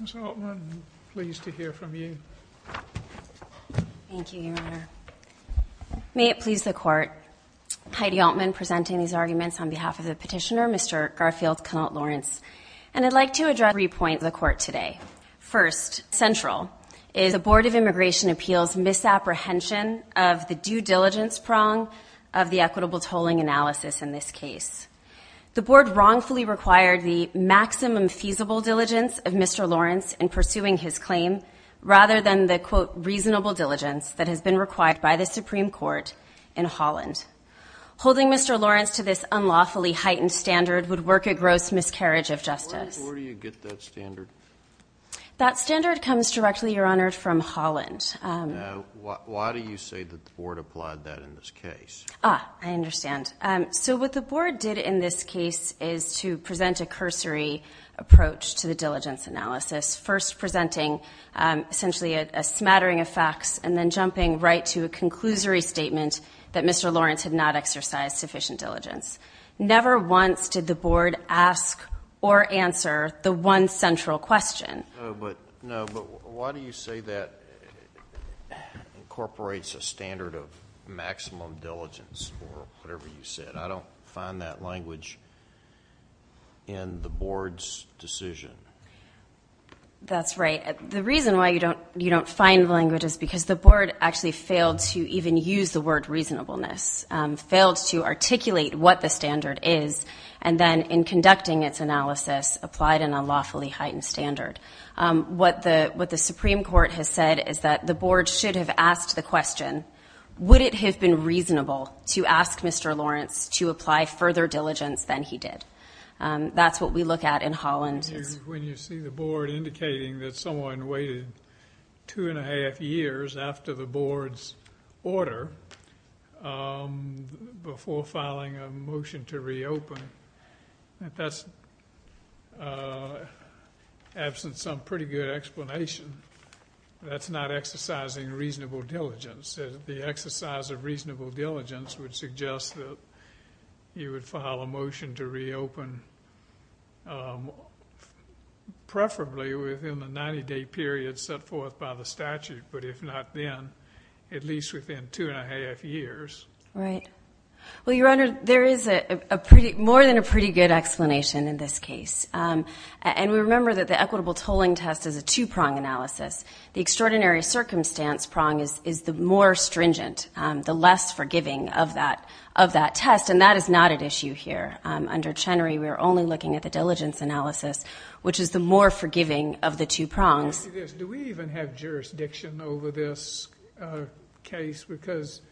Ms. Altman, pleased to hear from you. Thank you, Your Honor. May it please the Court, Heidi Altman presenting these arguments on behalf of the petitioner, Mr. Garfield-Kennelt Lawrence, and I'd like to address three points to the Court today. First, central, is the Board of Immigration Appeals' misapprehension of the due diligence prong of the equitable tolling analysis in this case. The Board wrongfully required the maximum feasible diligence of Mr. Lawrence in pursuing his claim, rather than the, quote, reasonable diligence that has been required by the Supreme Court in Holland. Holding Mr. Lawrence to this unlawfully heightened standard would work a gross miscarriage of justice. Where do you get that standard? That standard comes directly, Your Honor, from Holland. Now, why do you say that the Board applied that in this case? Ah, I understand. So what the Board did in this case is to present a cursory approach to the diligence analysis, first presenting essentially a smattering of facts and then jumping right to a conclusory statement that Mr. Lawrence had not exercised sufficient diligence. Never once did the Board ask or answer the one central question. No, but why do you say that incorporates a standard of maximum diligence or whatever you said? I don't find that language in the Board's decision. That's right. The reason why you don't find the language is because the Board actually failed to even use the word reasonableness, failed to articulate what the standard is, and then in conducting its analysis applied an unlawfully heightened standard. What the Supreme Court has said is that the Board should have asked the question, would it have been reasonable to ask Mr. Lawrence to apply further diligence than he did? That's what we look at in Holland. When you see the Board indicating that someone waited 2 1⁄2 years after the Board's order before filing a motion to reopen, that's absent some pretty good explanation. That's not exercising reasonable diligence. The exercise of reasonable diligence would suggest that you would file a motion to reopen, preferably within the 90-day period set forth by the statute, but if not then, at least within 2 1⁄2 years. Right. Well, Your Honor, there is more than a pretty good explanation in this case. And we remember that the equitable tolling test is a two-prong analysis. The extraordinary circumstance prong is the more stringent, the less forgiving of that test, and that is not at issue here. Under Chenery, we are only looking at the diligence analysis, which is the more forgiving of the two prongs. Do we even have jurisdiction over this case? Because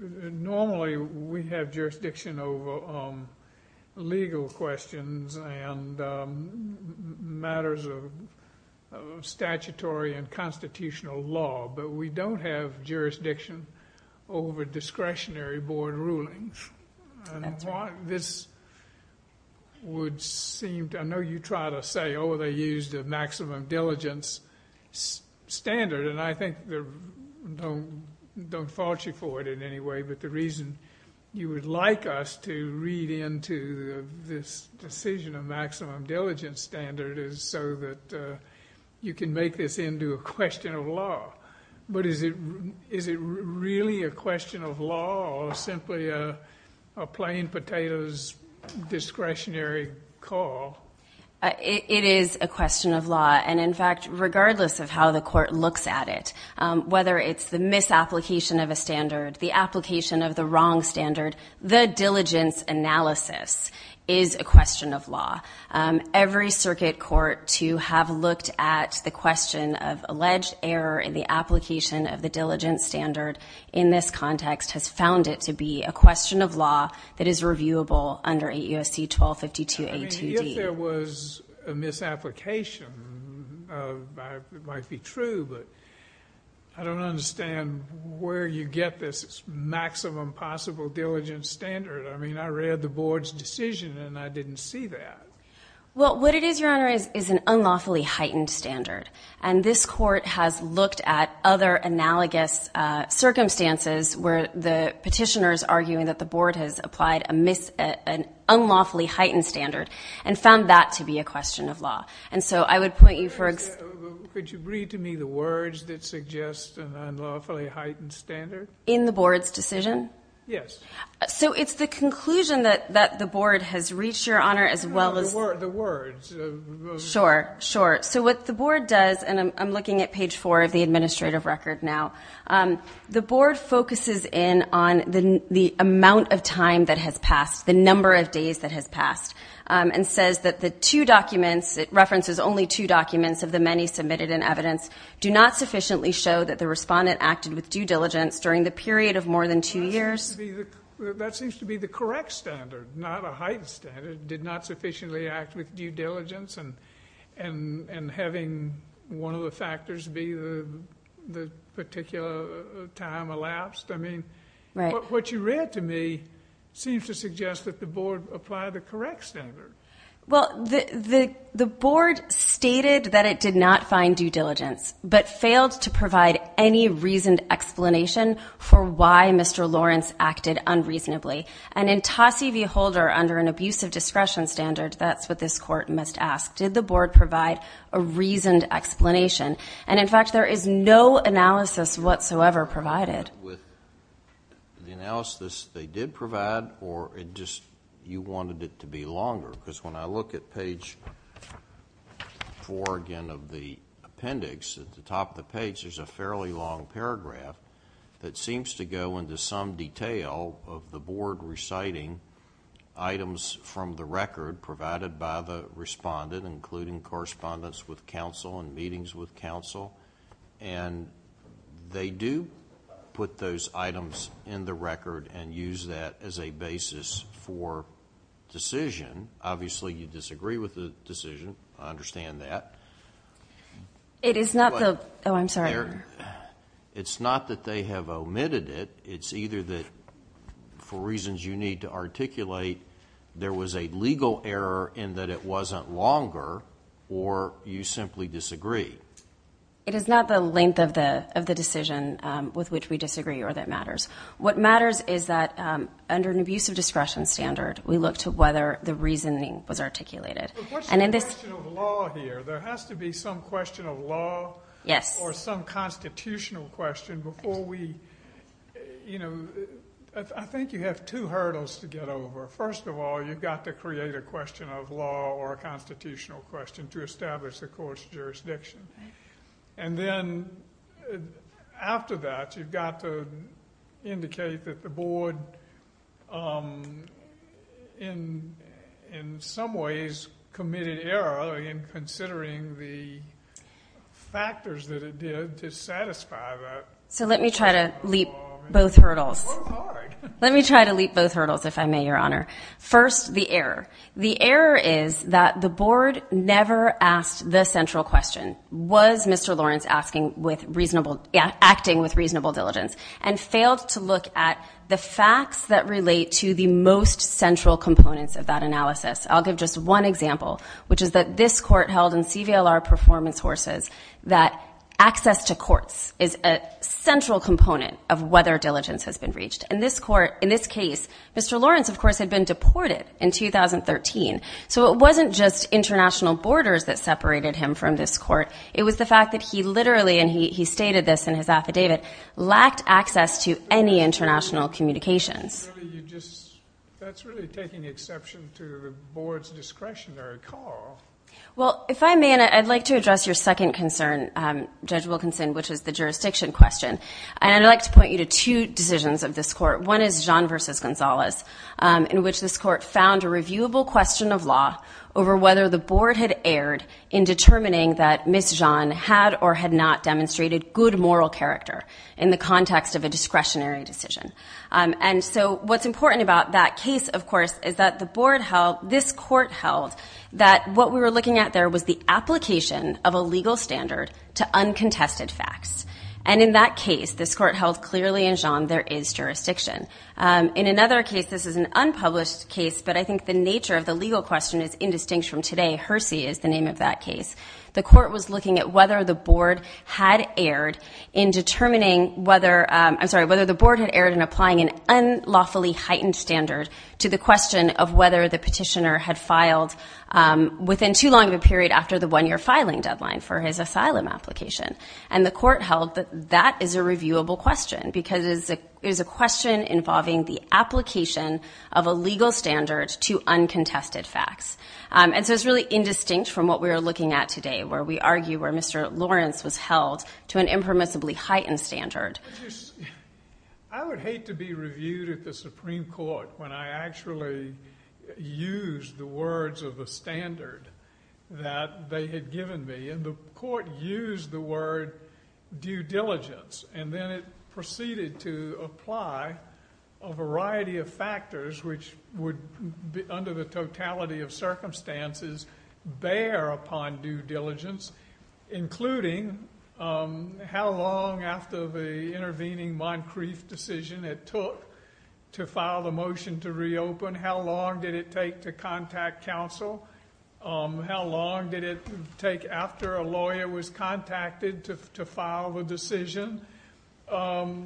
normally we have jurisdiction over legal questions and matters of statutory and constitutional law, but we don't have jurisdiction over discretionary Board rulings. I know you try to say, oh, they used a maximum diligence standard, and I think they don't fault you for it in any way, but the reason you would like us to read into this decision of maximum diligence standard is so that you can make this into a question of law. But is it really a question of law or simply a plain potatoes discretionary call? It is a question of law. And, in fact, regardless of how the court looks at it, whether it's the misapplication of a standard, the application of the wrong standard, the diligence analysis is a question of law. Every circuit court to have looked at the question of alleged error in the application of the diligence standard in this context has found it to be a question of law that is reviewable under 8 U.S.C. 1252A2D. If there was a misapplication, it might be true, but I don't understand where you get this maximum possible diligence standard. I mean, I read the Board's decision, and I didn't see that. Well, what it is, Your Honor, is an unlawfully heightened standard, and this court has looked at other analogous circumstances where the petitioner is arguing that the Board has applied an unlawfully heightened standard and found that to be a question of law. And so I would point you for ex- Could you read to me the words that suggest an unlawfully heightened standard? In the Board's decision? Yes. So it's the conclusion that the Board has reached, Your Honor, as well as- The words. Sure, sure. So what the Board does, and I'm looking at page 4 of the administrative record now, the Board focuses in on the amount of time that has passed, the number of days that has passed, and says that the two documents, it references only two documents of the many submitted in evidence, do not sufficiently show that the respondent acted with due diligence during the period of more than two years. That seems to be the correct standard, not a heightened standard, did not sufficiently act with due diligence, and having one of the factors be the particular time elapsed? I mean- Right. What you read to me seems to suggest that the Board applied the correct standard. Well, the Board stated that it did not find due diligence, but failed to provide any reasoned explanation for why Mr. Lawrence acted unreasonably. And in Tosse v. Holder, under an abusive discretion standard, that's what this Court must ask. Did the Board provide a reasoned explanation? And, in fact, there is no analysis whatsoever provided. With the analysis they did provide, or you wanted it to be longer? Because when I look at page 4, again, of the appendix, at the top of the page, there's a fairly long paragraph that seems to go into some detail of the Board reciting items from the record provided by the respondent, including correspondence with counsel and meetings with counsel. And they do put those items in the record and use that as a basis for decision. Obviously, you disagree with the decision. I understand that. It is not the, oh, I'm sorry. It's not that they have omitted it. It's either that, for reasons you need to articulate, there was a legal error in that it wasn't longer, or you simply disagree. It is not the length of the decision with which we disagree or that matters. What matters is that, under an abusive discretion standard, we look to whether the reasoning was articulated. But what's the question of law here? There has to be some question of law or some constitutional question before we, you know. I think you have two hurdles to get over. First of all, you've got to create a question of law or a constitutional question to establish the court's jurisdiction. And then, after that, you've got to indicate that the board, in some ways, committed error in considering the factors that it did to satisfy that. So let me try to leap both hurdles. Let me try to leap both hurdles, if I may, Your Honor. First, the error. The error is that the board never asked the central question, was Mr. Lawrence acting with reasonable diligence, and failed to look at the facts that relate to the most central components of that analysis. I'll give just one example, which is that this court held in CVLR Performance Horses that access to courts is a central component of whether diligence has been reached. In this case, Mr. Lawrence, of course, had been deported in 2013. So it wasn't just international borders that separated him from this court. It was the fact that he literally, and he stated this in his affidavit, lacked access to any international communications. That's really taking exception to the board's discretionary call. Well, if I may, and I'd like to address your second concern, Judge Wilkinson, which is the jurisdiction question. And I'd like to point you to two decisions of this court. One is Jeanne v. Gonzalez, in which this court found a reviewable question of law over whether the board had erred in determining that Ms. Jeanne had or had not demonstrated good moral character in the context of a discretionary decision. And so what's important about that case, of course, is that the board held, this court held, that what we were looking at there was the application of a legal standard to uncontested facts. And in that case, this court held clearly in Jeanne there is jurisdiction. In another case, this is an unpublished case, but I think the nature of the legal question is indistinct from today. Hersey is the name of that case. The court was looking at whether the board had erred in determining whether, I'm sorry, whether the board had erred in applying an unlawfully heightened standard to the question of whether the petitioner had filed within too long of a period after the one-year filing deadline for his asylum application. And the court held that that is a reviewable question because it is a question involving the application of a legal standard to uncontested facts. And so it's really indistinct from what we were looking at today, where we argue where Mr. Lawrence was held to an impermissibly heightened standard. I would hate to be reviewed at the Supreme Court when I actually used the words of the standard that they had given me. And the court used the word due diligence, and then it proceeded to apply a variety of factors, which would, under the totality of circumstances, bear upon due diligence, including how long after the intervening Moncrief decision it took to file the motion to reopen, how long did it take to contact counsel, how long did it take after a lawyer was contacted to file the decision. They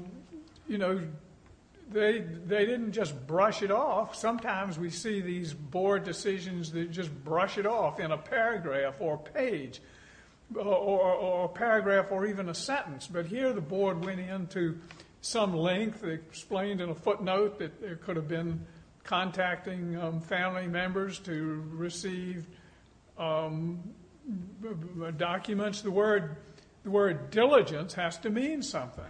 didn't just brush it off. Sometimes we see these board decisions that just brush it off in a paragraph or a page or a paragraph or even a sentence. But here the board went into some length. They explained in a footnote that there could have been contacting family members to receive documents. The word diligence has to mean something.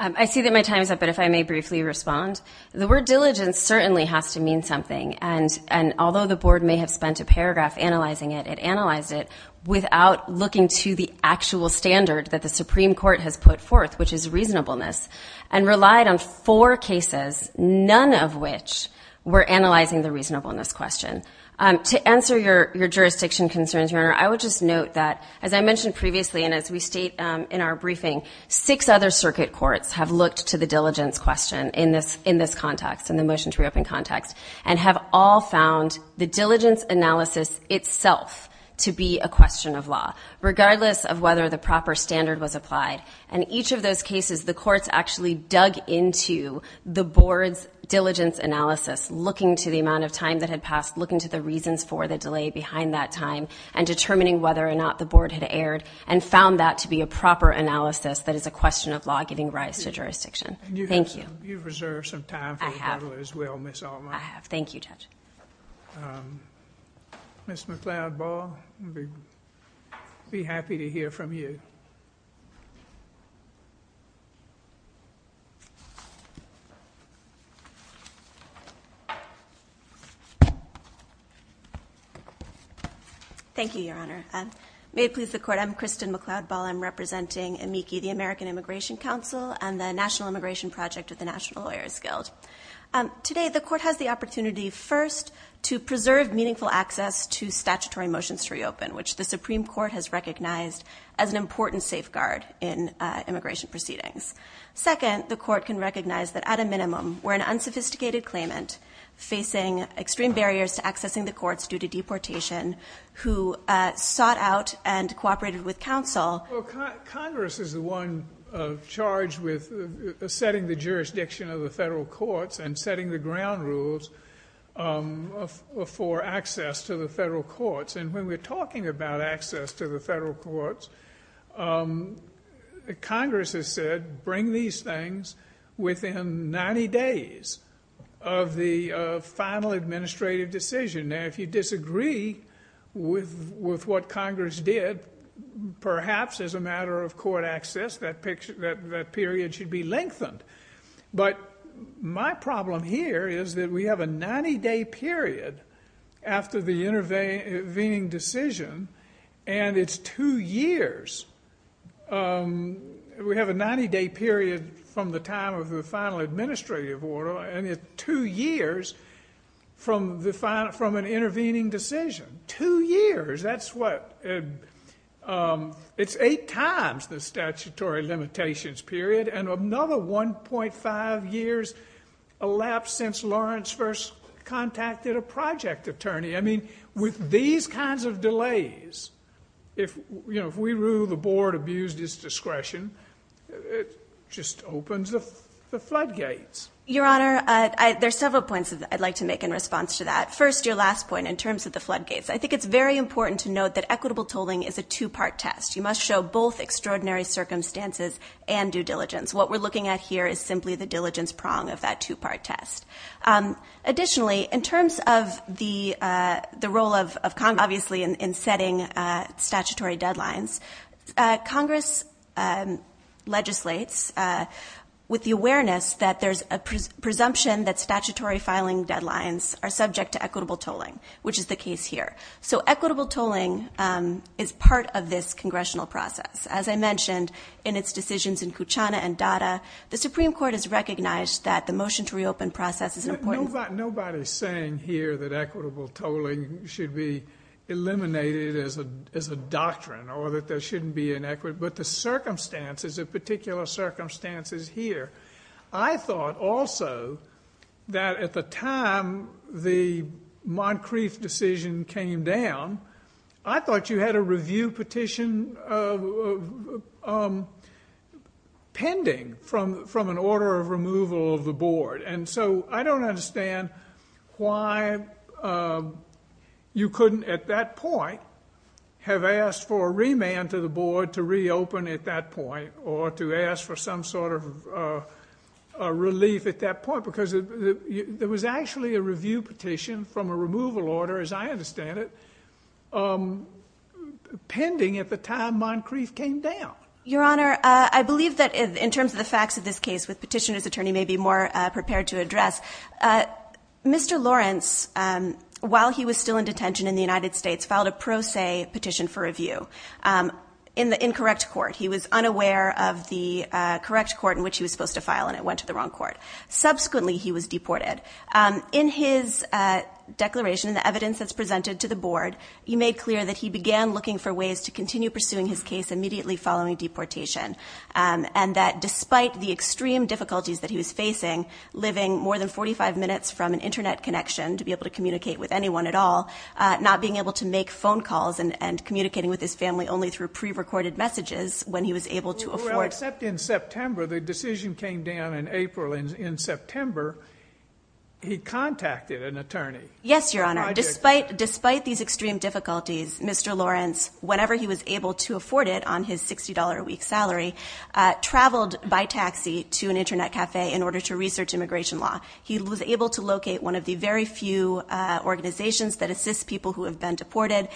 I see that my time is up, but if I may briefly respond. The word diligence certainly has to mean something, and although the board may have spent a paragraph analyzing it, it analyzed it without looking to the actual standard that the Supreme Court has put forth, which is reasonableness, and relied on four cases, none of which were analyzing the reasonableness question. To answer your jurisdiction concerns, Your Honor, I would just note that, as I mentioned previously, and as we state in our briefing, six other circuit courts have looked to the diligence question in this context, in the motion to reopen context, and have all found the diligence analysis itself to be a question of law, regardless of whether the proper standard was applied. In each of those cases, the courts actually dug into the board's diligence analysis, looking to the amount of time that had passed, looking to the reasons for the delay behind that time, and determining whether or not the board had erred, and found that to be a proper analysis that is a question of law giving rise to jurisdiction. Thank you. You've reserved some time for rebuttal as well, Ms. Altman. I have. Thank you, Judge. Ms. McLeod-Ball, we'd be happy to hear from you. Thank you, Your Honor. May it please the Court, I'm Kristen McLeod-Ball. I'm representing AMICI, the American Immigration Council, and the National Immigration Project of the National Lawyers Guild. Today, the Court has the opportunity, first, to preserve meaningful access to statutory motions to reopen, which the Supreme Court has recognized as an important safeguard in immigration proceedings. Second, the Court can recognize that, at a minimum, we're an unsophisticated claimant, facing extreme barriers to accessing the courts due to deportation, who sought out and cooperated with counsel. Congress is the one charged with setting the jurisdiction of the federal courts and setting the ground rules for access to the federal courts. And when we're talking about access to the federal courts, Congress has said, bring these things within 90 days of the final administrative decision. Now, if you disagree with what Congress did, perhaps as a matter of court access, that period should be lengthened. But my problem here is that we have a 90-day period after the intervening decision, and it's two years. We have a 90-day period from the time of the final administrative order, and it's two years from an intervening decision. Two years! That's what... It's eight times the statutory limitations period, and another 1.5 years elapsed since Lawrence first contacted a project attorney. I mean, with these kinds of delays, if we rule the board abused its discretion, it just opens the floodgates. Your Honor, there are several points I'd like to make in response to that. First, your last point in terms of the floodgates. I think it's very important to note that equitable tolling is a two-part test. You must show both extraordinary circumstances and due diligence. What we're looking at here is simply the diligence prong of that two-part test. Additionally, in terms of the role of Congress, obviously, in setting statutory deadlines, Congress legislates with the awareness that there's a presumption that statutory filing deadlines are subject to equitable tolling, which is the case here. So equitable tolling is part of this congressional process. As I mentioned, in its decisions in Kuchana and Dada, the Supreme Court has recognized that the motion to reopen process is an important... Nobody's saying here that equitable tolling should be eliminated as a doctrine or that there shouldn't be an equity, but the circumstances, the particular circumstances here. I thought also that at the time the Moncrief decision came down, I thought you had a review petition pending from an order of removal of the board. And so I don't understand why you couldn't at that point have asked for a remand to the board to reopen at that point or to ask for some sort of relief at that point because there was actually a review petition from a removal order, as I understand it, pending at the time Moncrief came down. Your Honor, I believe that in terms of the facts of this case, which Petitioner's Attorney may be more prepared to address, Mr. Lawrence, while he was still in detention in the United States, filed a pro se petition for review. In the incorrect court. He was unaware of the correct court in which he was supposed to file, and it went to the wrong court. Subsequently, he was deported. In his declaration, the evidence that's presented to the board, he made clear that he began looking for ways to continue pursuing his case immediately following deportation and that despite the extreme difficulties that he was facing, living more than 45 minutes from an Internet connection to be able to communicate with anyone at all, not being able to make phone calls and communicating with his family only through pre-recorded messages when he was able to afford... Except in September, the decision came down in April. In September, he contacted an attorney. Yes, Your Honor. Despite these extreme difficulties, Mr. Lawrence, whenever he was able to afford it on his $60 a week salary, traveled by taxi to an Internet cafe in order to research immigration law. He was able to locate one of the very few organizations that assist people who have been deported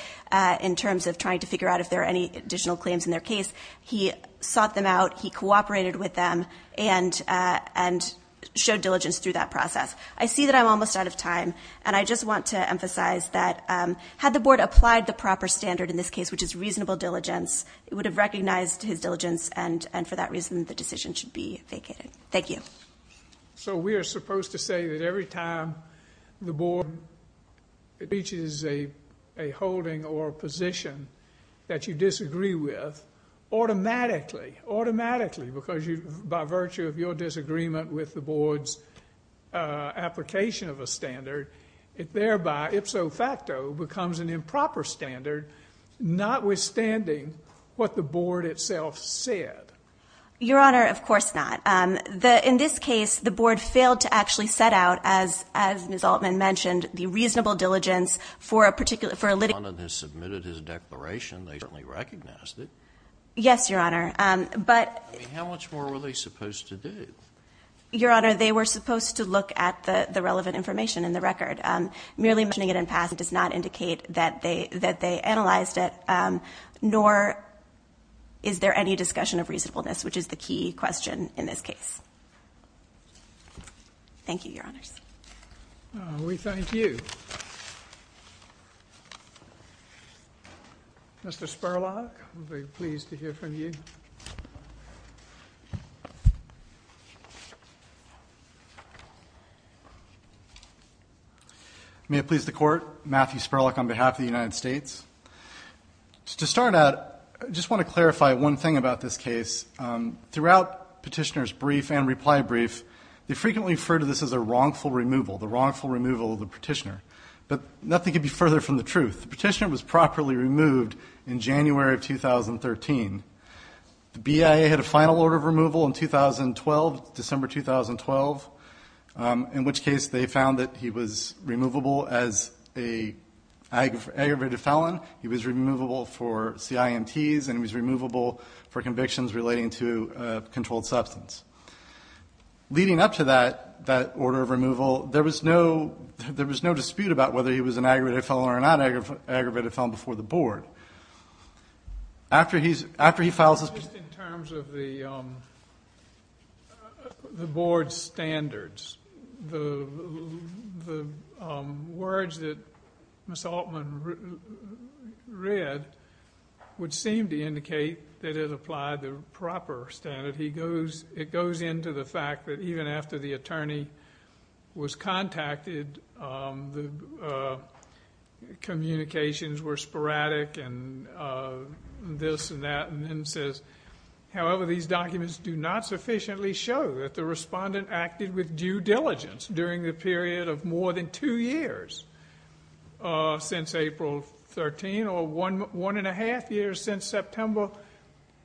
in terms of trying to figure out if there are any additional claims in their case. He sought them out. He cooperated with them and showed diligence through that process. I see that I'm almost out of time, and I just want to emphasize that had the board applied the proper standard in this case, which is reasonable diligence, it would have recognized his diligence, and for that reason, the decision should be vacated. Thank you. So we are supposed to say that every time the board reaches a holding or a position that you disagree with, automatically, automatically, because by virtue of your disagreement with the board's application of a standard, it thereby, ipso facto, becomes an improper standard, notwithstanding what the board itself said. Your Honor, of course not. In this case, the board failed to actually set out, as Ms. Altman mentioned, the reasonable diligence for a particular litigation. They submitted his declaration. They certainly recognized it. Yes, Your Honor. I mean, how much more were they supposed to do? Your Honor, they were supposed to look at the relevant information in the record. Merely mentioning it in passing does not indicate that they analyzed it, nor is there any discussion of reasonableness, which is the key question in this case. Thank you, Your Honors. We thank you. Mr. Spurlock, we're very pleased to hear from you. May it please the Court, Matthew Spurlock on behalf of the United States. To start out, I just want to clarify one thing about this case. Throughout Petitioner's brief and reply brief, they frequently refer to this as a wrongful removal, the wrongful removal of the Petitioner. But nothing could be further from the truth. The Petitioner was properly removed in January of 2013. The BIA had a final order of removal in 2012, December 2012, in which case they found that he was removable as an aggravated felon. He was removable for CIMTs and he was removable for convictions relating to a controlled substance. Leading up to that order of removal, there was no dispute about whether he was an aggravated felon or not an aggravated felon before the Board. Just in terms of the Board's standards, the words that Ms. Altman read would seem to indicate that it applied the proper standard. It goes into the fact that even after the attorney was contacted, the communications were sporadic and this and that, and then says, however, these documents do not sufficiently show that the respondent acted with due diligence during the period of more than two years since April 13 or one and a half years since September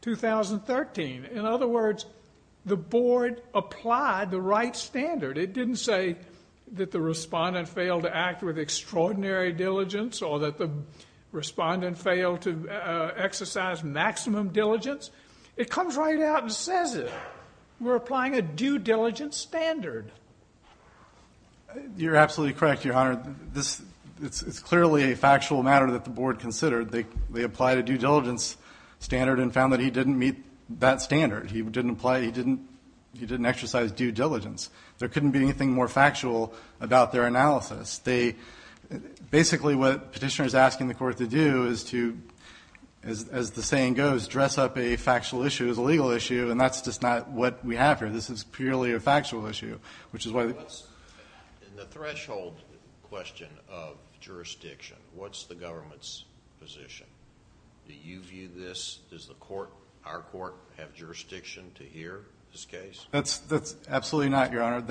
2013. In other words, the Board applied the right standard. It didn't say that the respondent failed to act with extraordinary diligence or that the respondent failed to exercise maximum diligence. It comes right out and says it. We're applying a due diligence standard. You're absolutely correct, Your Honor. It's clearly a factual matter that the Board considered. They applied a due diligence standard and found that he didn't meet that standard. He didn't exercise due diligence. There couldn't be anything more factual about their analysis. Basically what the petitioner is asking the court to do is to, as the saying goes, dress up a factual issue as a legal issue, and that's just not what we have here. This is purely a factual issue. In the threshold question of jurisdiction, what's the government's position? Do you view this? Does our court have jurisdiction to hear this case? That's absolutely not, Your Honor.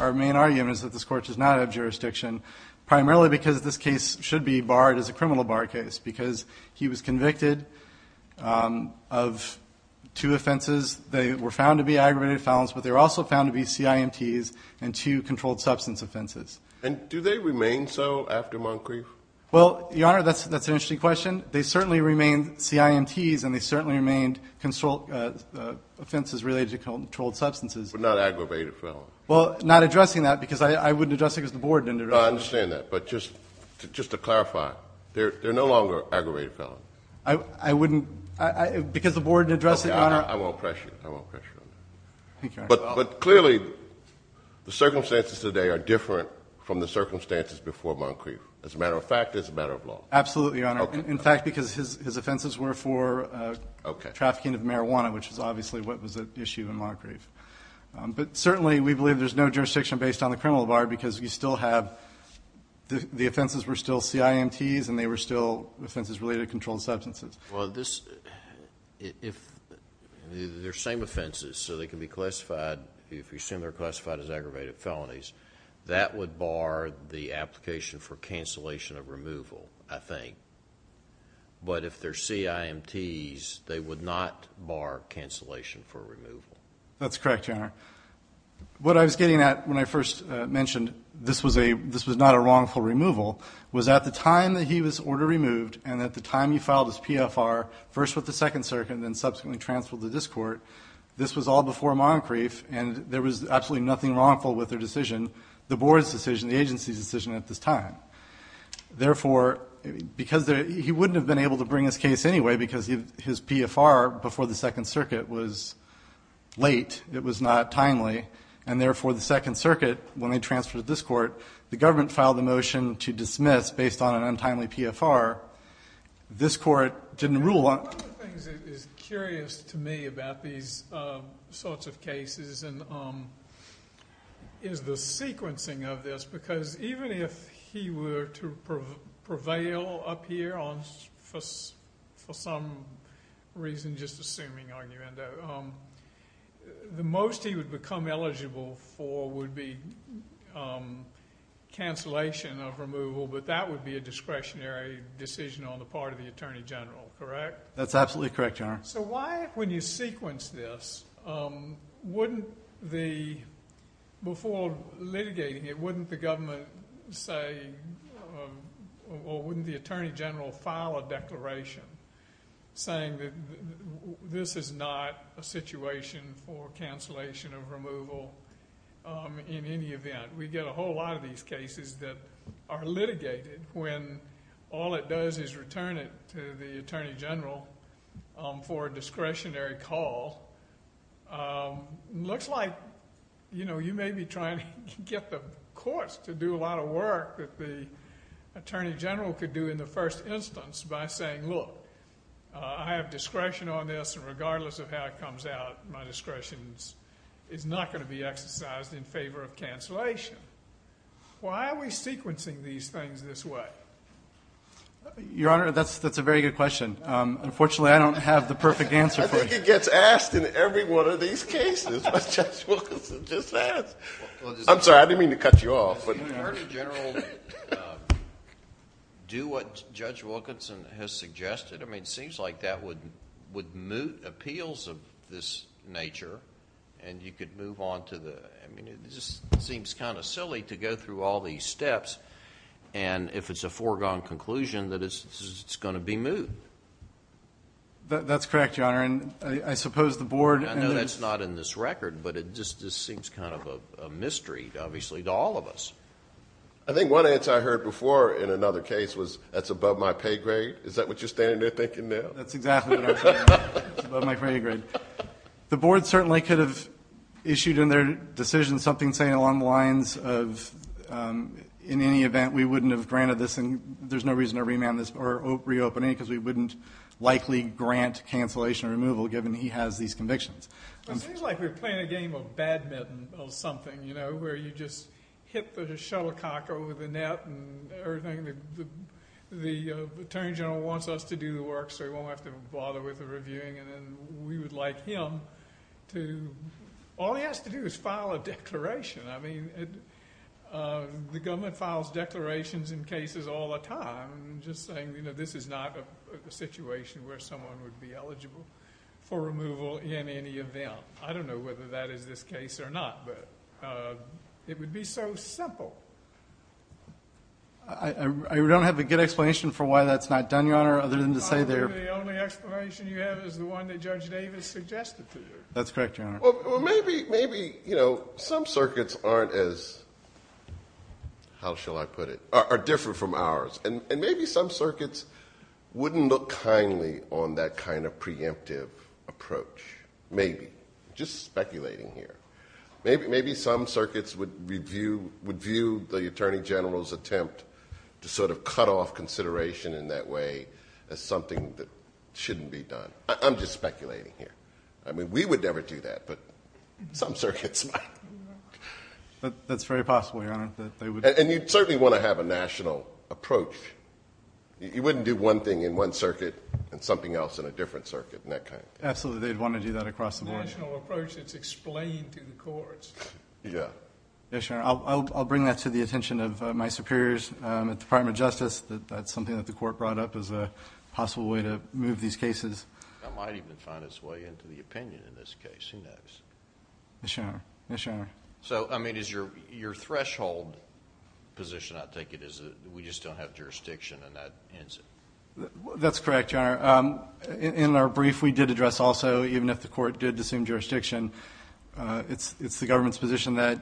Our main argument is that this court does not have jurisdiction, primarily because this case should be barred as a criminal bar case because he was convicted of two offenses. They were found to be aggravated felons, but they were also found to be CIMTs and two controlled substance offenses. Do they remain so after Moncrief? Your Honor, that's an interesting question. They certainly remain CIMTs and they certainly remain offenses related to controlled substances. But not aggravated felons. Well, not addressing that because I wouldn't address it because the board didn't address it. No, I understand that. But just to clarify, they're no longer aggravated felons. I wouldn't, because the board didn't address it, Your Honor. I won't pressure you. I won't pressure you on that. Thank you, Your Honor. But clearly the circumstances today are different from the circumstances before Moncrief. As a matter of fact, it's a matter of law. Absolutely, Your Honor. In fact, because his offenses were for trafficking of marijuana, which is obviously what was at issue in Moncrief. But certainly we believe there's no jurisdiction based on the criminal bar because you still have the offenses were still CIMTs and they were still offenses related to controlled substances. Well, they're the same offenses, so they can be classified. If you assume they're classified as aggravated felonies, that would bar the application for cancellation of removal, I think. But if they're CIMTs, they would not bar cancellation for removal. That's correct, Your Honor. What I was getting at when I first mentioned this was not a wrongful removal was at the time that he was order removed and at the time he filed his PFR, first with the Second Circuit and then subsequently transferred to this court, this was all before Moncrief and there was absolutely nothing wrongful with their decision, the board's decision, the agency's decision at this time. Therefore, because he wouldn't have been able to bring his case anyway because his PFR before the Second Circuit was late, it was not timely, and therefore the Second Circuit, when they transferred to this court, the government filed a motion to dismiss based on an untimely PFR. This court didn't rule on it. One of the things that is curious to me about these sorts of cases is the sequencing of this because even if he were to prevail up here for some reason, just assuming argument, the most he would become eligible for would be cancellation of removal, but that would be a discretionary decision on the part of the Attorney General, correct? That's absolutely correct, Your Honor. Why, when you sequence this, before litigating it, wouldn't the government say or wouldn't the Attorney General file a declaration saying that this is not a situation for cancellation of removal in any event? We get a whole lot of these cases that are litigated when all it does is return it to the Attorney General for a discretionary call. It looks like you may be trying to get the courts to do a lot of work that the Attorney General could do in the first instance by saying, look, I have discretion on this and regardless of how it comes out, my discretion is not going to be exercised in favor of cancellation. Why are we sequencing these things this way? Your Honor, that's a very good question. Unfortunately, I don't have the perfect answer for you. I think it gets asked in every one of these cases, but Judge Wilkinson just asked. I'm sorry, I didn't mean to cut you off. Would the Attorney General do what Judge Wilkinson has suggested? I mean, it seems like that would moot appeals of this nature and you could move on to the... I mean, it just seems kind of silly to go through all these steps and if it's a foregone conclusion that it's going to be moot. That's correct, Your Honor, and I suppose the Board... I know that's not in this record, but it just seems kind of a mystery, obviously, to all of us. I think one answer I heard before in another case was that's above my pay grade. Is that what you're standing there thinking now? That's exactly what I'm saying. It's above my pay grade. The Board certainly could have issued in their decision something saying along the lines of, in any event, we wouldn't have granted this and there's no reason to remand this or reopen it because we wouldn't likely grant cancellation or removal given he has these convictions. It seems like we're playing a game of badminton or something, you know, where you just hit the shuttlecock over the net and everything. The Attorney General wants us to do the work so he won't have to bother with the reviewing and then we would like him to... All he has to do is file a declaration. I mean, the government files declarations in cases all the time just saying this is not a situation where someone would be eligible for removal in any event. I don't know whether that is this case or not, but it would be so simple. I don't have a good explanation for why that's not done, Your Honor, other than to say there... I believe the only explanation you have is the one that Judge Davis suggested to you. That's correct, Your Honor. Well, maybe, you know, some circuits aren't as... how shall I put it? Are different from ours. And maybe some circuits wouldn't look kindly on that kind of preemptive approach, maybe. Just speculating here. Maybe some circuits would view the Attorney General's attempt to sort of cut off consideration in that way as something that shouldn't be done. I'm just speculating here. I mean, we would never do that, but some circuits might. That's very possible, Your Honor. And you'd certainly want to have a national approach. You wouldn't do one thing in one circuit and something else in a different circuit and that kind of thing. Absolutely, they'd want to do that across the board. It's a national approach that's explained to the courts. Yeah. Yes, Your Honor. I'll bring that to the attention of my superiors at the Department of Justice. That's something that the court brought up as a possible way to move these cases. It might even find its way into the opinion in this case. Who knows? Yes, Your Honor. Yes, Your Honor. So, I mean, is your threshold position, I think it is, that we just don't have jurisdiction and that ends it? That's correct, Your Honor. In our brief, we did address also, even if the court did assume jurisdiction, it's the government's position that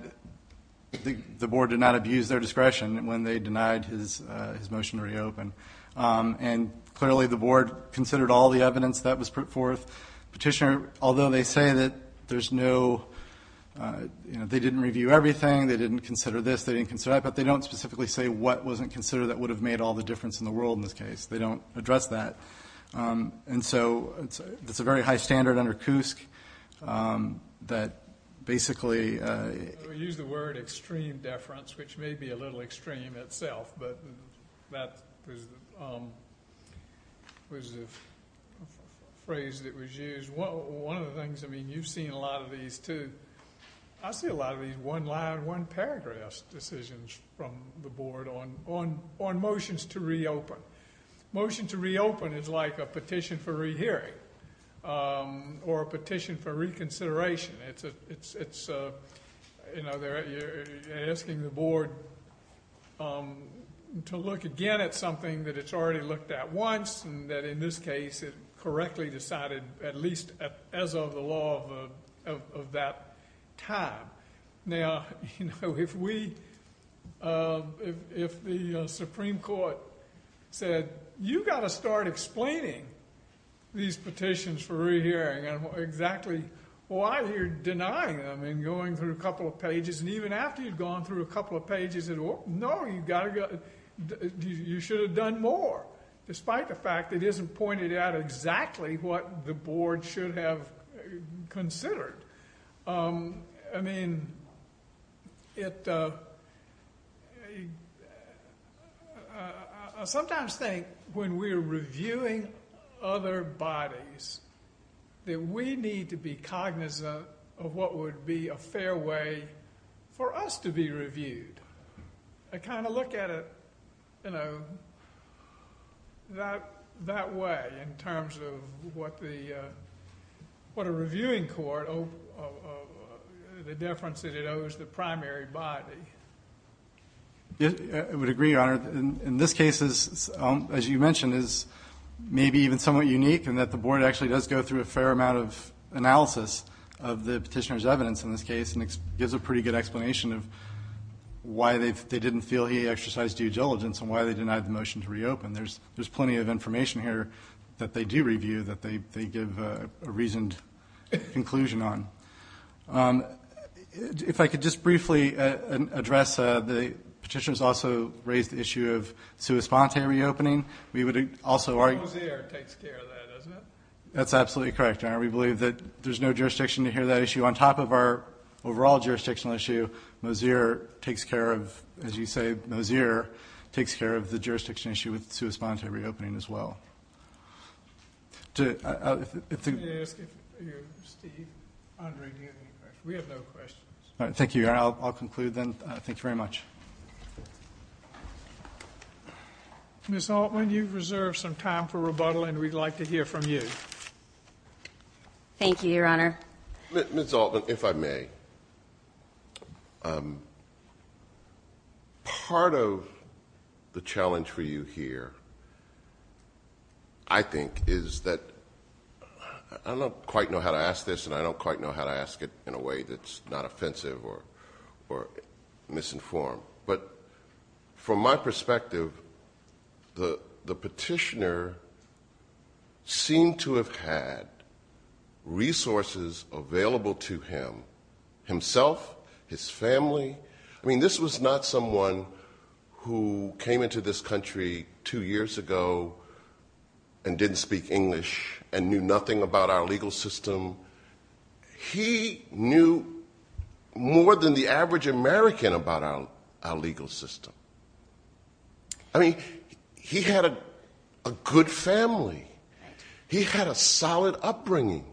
the board did not abuse their discretion when they denied his motion to reopen. And clearly the board considered all the evidence that was put forth. Petitioner, although they say that there's no, you know, they didn't review everything, they didn't consider this, they didn't consider that, but they don't specifically say what wasn't considered that would have made all the difference in the world in this case. They don't address that. And so it's a very high standard under Cusk that basically... We use the word extreme deference, which may be a little extreme itself, but that was the phrase that was used. One of the things, I mean, you've seen a lot of these too. I see a lot of these one-line, one-paragraph decisions from the board on motions to reopen. Motion to reopen is like a petition for rehearing or a petition for reconsideration. It's, you know, they're asking the board to look again at something that it's already looked at once and that in this case it correctly decided at least as of the law of that time. Now, you know, if we, if the Supreme Court said, you've got to start explaining these petitions for rehearing and exactly why you're denying them and going through a couple of pages and even after you've gone through a couple of pages, they said, no, you should have done more, despite the fact that it isn't pointed out exactly what the board should have considered. I mean, I sometimes think when we're reviewing other bodies that we need to be cognizant of what would be a fair way for us to be reviewed. I kind of look at it, you know, that way in terms of what the, what a reviewing court, the difference that it owes the primary body. I would agree, Your Honor. In this case, as you mentioned, is maybe even somewhat unique in that the board actually does go through a fair amount of analysis of the petitioner's evidence in this case and gives a pretty good explanation of why they didn't feel he exercised due diligence and why they denied the motion to reopen. There's plenty of information here that they do review that they give a reasoned conclusion on. If I could just briefly address, the petitioners also raised the issue of sua sponte reopening. Mosear takes care of that, doesn't it? That's absolutely correct, Your Honor. We believe that there's no jurisdiction to hear that issue. On top of our overall jurisdictional issue, Mosear takes care of, as you say, Mosear takes care of the jurisdiction issue with sua sponte reopening as well. Let me ask you, Steve, Andre Newton, we have no questions. Thank you, Your Honor. I'll conclude then. Thank you very much. Ms. Altman, you've reserved some time for rebuttal, and we'd like to hear from you. Thank you, Your Honor. Ms. Altman, if I may, part of the challenge for you here, I think, is that I don't quite know how to ask this, and I don't quite know how to ask it in a way that's not offensive or misinformed. But from my perspective, the petitioner seemed to have had resources available to him, himself, his family. I mean, this was not someone who came into this country two years ago and didn't speak English and knew nothing about our legal system. He knew more than the average American about our legal system. I mean, he had a good family. He had a solid upbringing.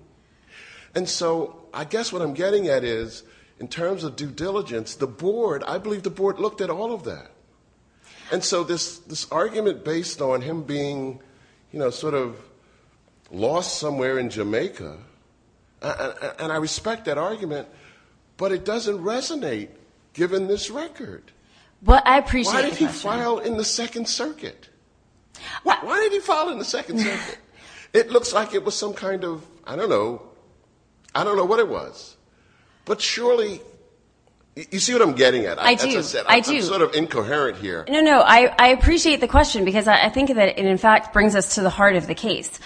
And so I guess what I'm getting at is, in terms of due diligence, the board, I believe the board looked at all of that. And so this argument based on him being, you know, sort of lost somewhere in Jamaica, and I respect that argument, but it doesn't resonate, given this record. Well, I appreciate the question. Why did he file in the Second Circuit? Why did he file in the Second Circuit? It looks like it was some kind of, I don't know, I don't know what it was. But surely, you see what I'm getting at. I do. I'm sort of incoherent here. No, no, I appreciate the question, because I think that it, in fact, brings us to the heart of the case,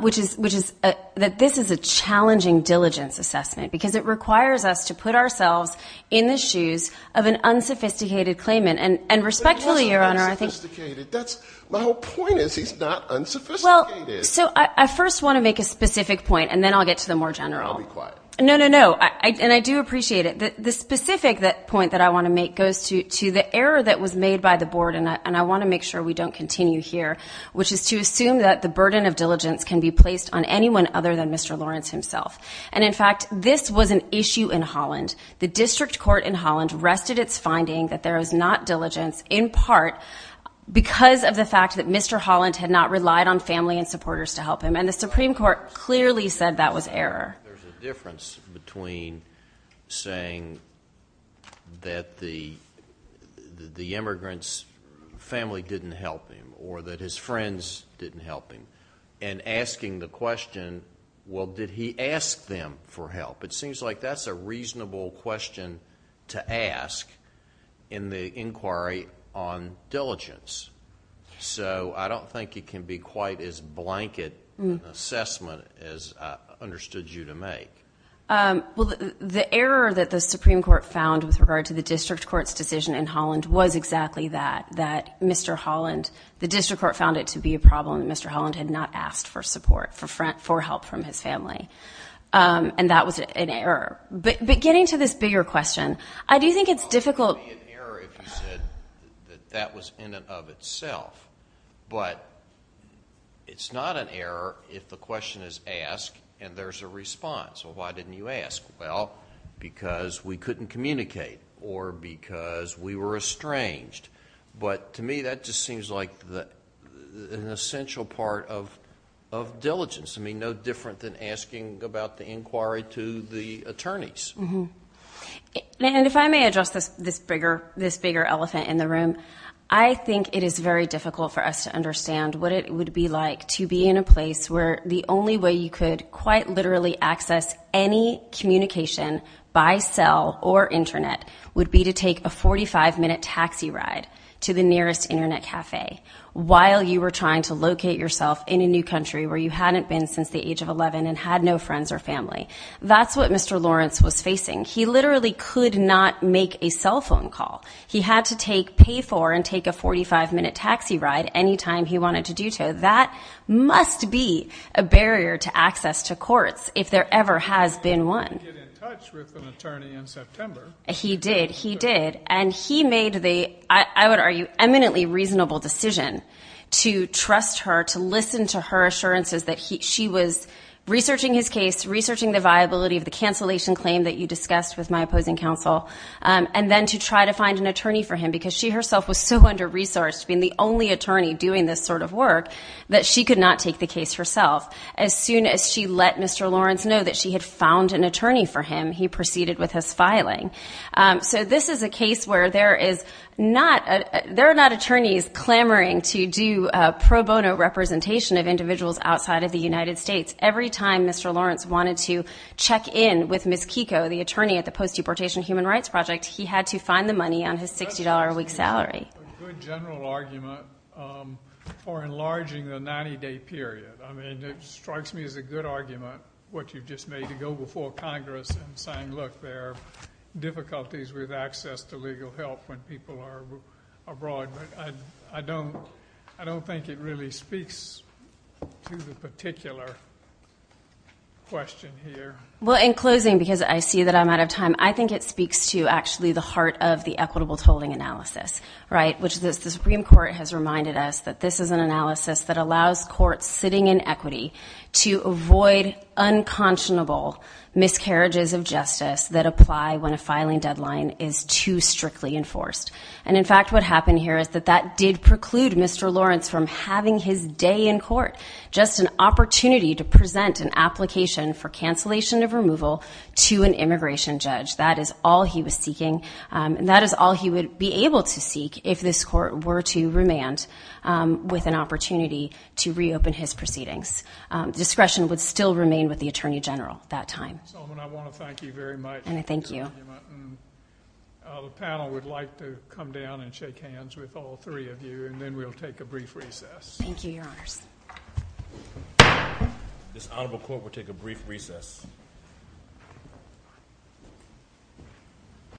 which is that this is a challenging diligence assessment, because it requires us to put ourselves in the shoes of an unsophisticated claimant. And respectfully, Your Honor, I think. But he wasn't unsophisticated. My whole point is he's not unsophisticated. Well, so I first want to make a specific point, and then I'll get to the more general. I'll be quiet. No, no, no. And I do appreciate it. The specific point that I want to make goes to the error that was made by the board, and I want to make sure we don't continue here, which is to assume that the burden of diligence can be placed on anyone other than Mr. Lawrence himself. And, in fact, this was an issue in Holland. The district court in Holland rested its finding that there was not diligence, in part because of the fact that Mr. Holland had not relied on family and supporters to help him, and the Supreme Court clearly said that was error. There's a difference between saying that the immigrant's family didn't help him or that his friends didn't help him and asking the question, well, did he ask them for help? It seems like that's a reasonable question to ask in the inquiry on diligence. So I don't think it can be quite as blanket an assessment as I understood you to make. Well, the error that the Supreme Court found with regard to the district court's decision in Holland was exactly that, that Mr. Holland, the district court found it to be a problem that Mr. Holland had not asked for support, for help from his family, and that was an error. But getting to this bigger question, I do think it's difficult. It would be an error if you said that that was in and of itself, but it's not an error if the question is asked and there's a response. Well, why didn't you ask? Well, because we couldn't communicate or because we were estranged. But to me, that just seems like an essential part of diligence, I mean no different than asking about the inquiry to the attorneys. And if I may address this bigger elephant in the room, I think it is very difficult for us to understand what it would be like to be in a place where the only way you could quite literally access any communication by cell or Internet would be to take a 45-minute taxi ride to the nearest Internet cafe while you were trying to locate yourself in a new country where you hadn't been since the age of 11 and had no friends or family. That's what Mr. Lawrence was facing. He literally could not make a cell phone call. He had to pay for and take a 45-minute taxi ride any time he wanted to do so. That must be a barrier to access to courts if there ever has been one. He did get in touch with an attorney in September. He did, he did. And he made the, I would argue, eminently reasonable decision to trust her, to listen to her assurances that she was researching his case, researching the viability of the cancellation claim that you discussed with my opposing counsel, and then to try to find an attorney for him because she herself was so under-resourced, being the only attorney doing this sort of work, that she could not take the case herself. As soon as she let Mr. Lawrence know that she had found an attorney for him, he proceeded with his filing. So this is a case where there is not, there are not attorneys clamoring to do pro bono representation of individuals outside of the United States. Every time Mr. Lawrence wanted to check in with Ms. Kiko, the attorney at the Post-Deportation Human Rights Project, he had to find the money on his $60 a week salary. That strikes me as a good general argument for enlarging the 90-day period. I mean, it strikes me as a good argument, what you've just made, to go before Congress and saying, look, there are difficulties with access to legal help when people are abroad. But I don't think it really speaks to the particular question here. Well, in closing, because I see that I'm out of time, I think it speaks to actually the heart of the equitable tolling analysis, right, which the Supreme Court has reminded us that this is an analysis that allows courts sitting in equity to avoid unconscionable miscarriages of justice that apply when a filing deadline is too strictly enforced. And, in fact, what happened here is that that did preclude Mr. Lawrence from having his day in court, just an opportunity to present an application for cancellation of removal to an immigration judge. That is all he was seeking. And that is all he would be able to seek if this court were to remand with an opportunity to reopen his proceedings. Discretion would still remain with the attorney general at that time. Solomon, I want to thank you very much. And I thank you. The panel would like to come down and shake hands with all three of you, and then we'll take a brief recess. Thank you, Your Honors. This honorable court will take a brief recess.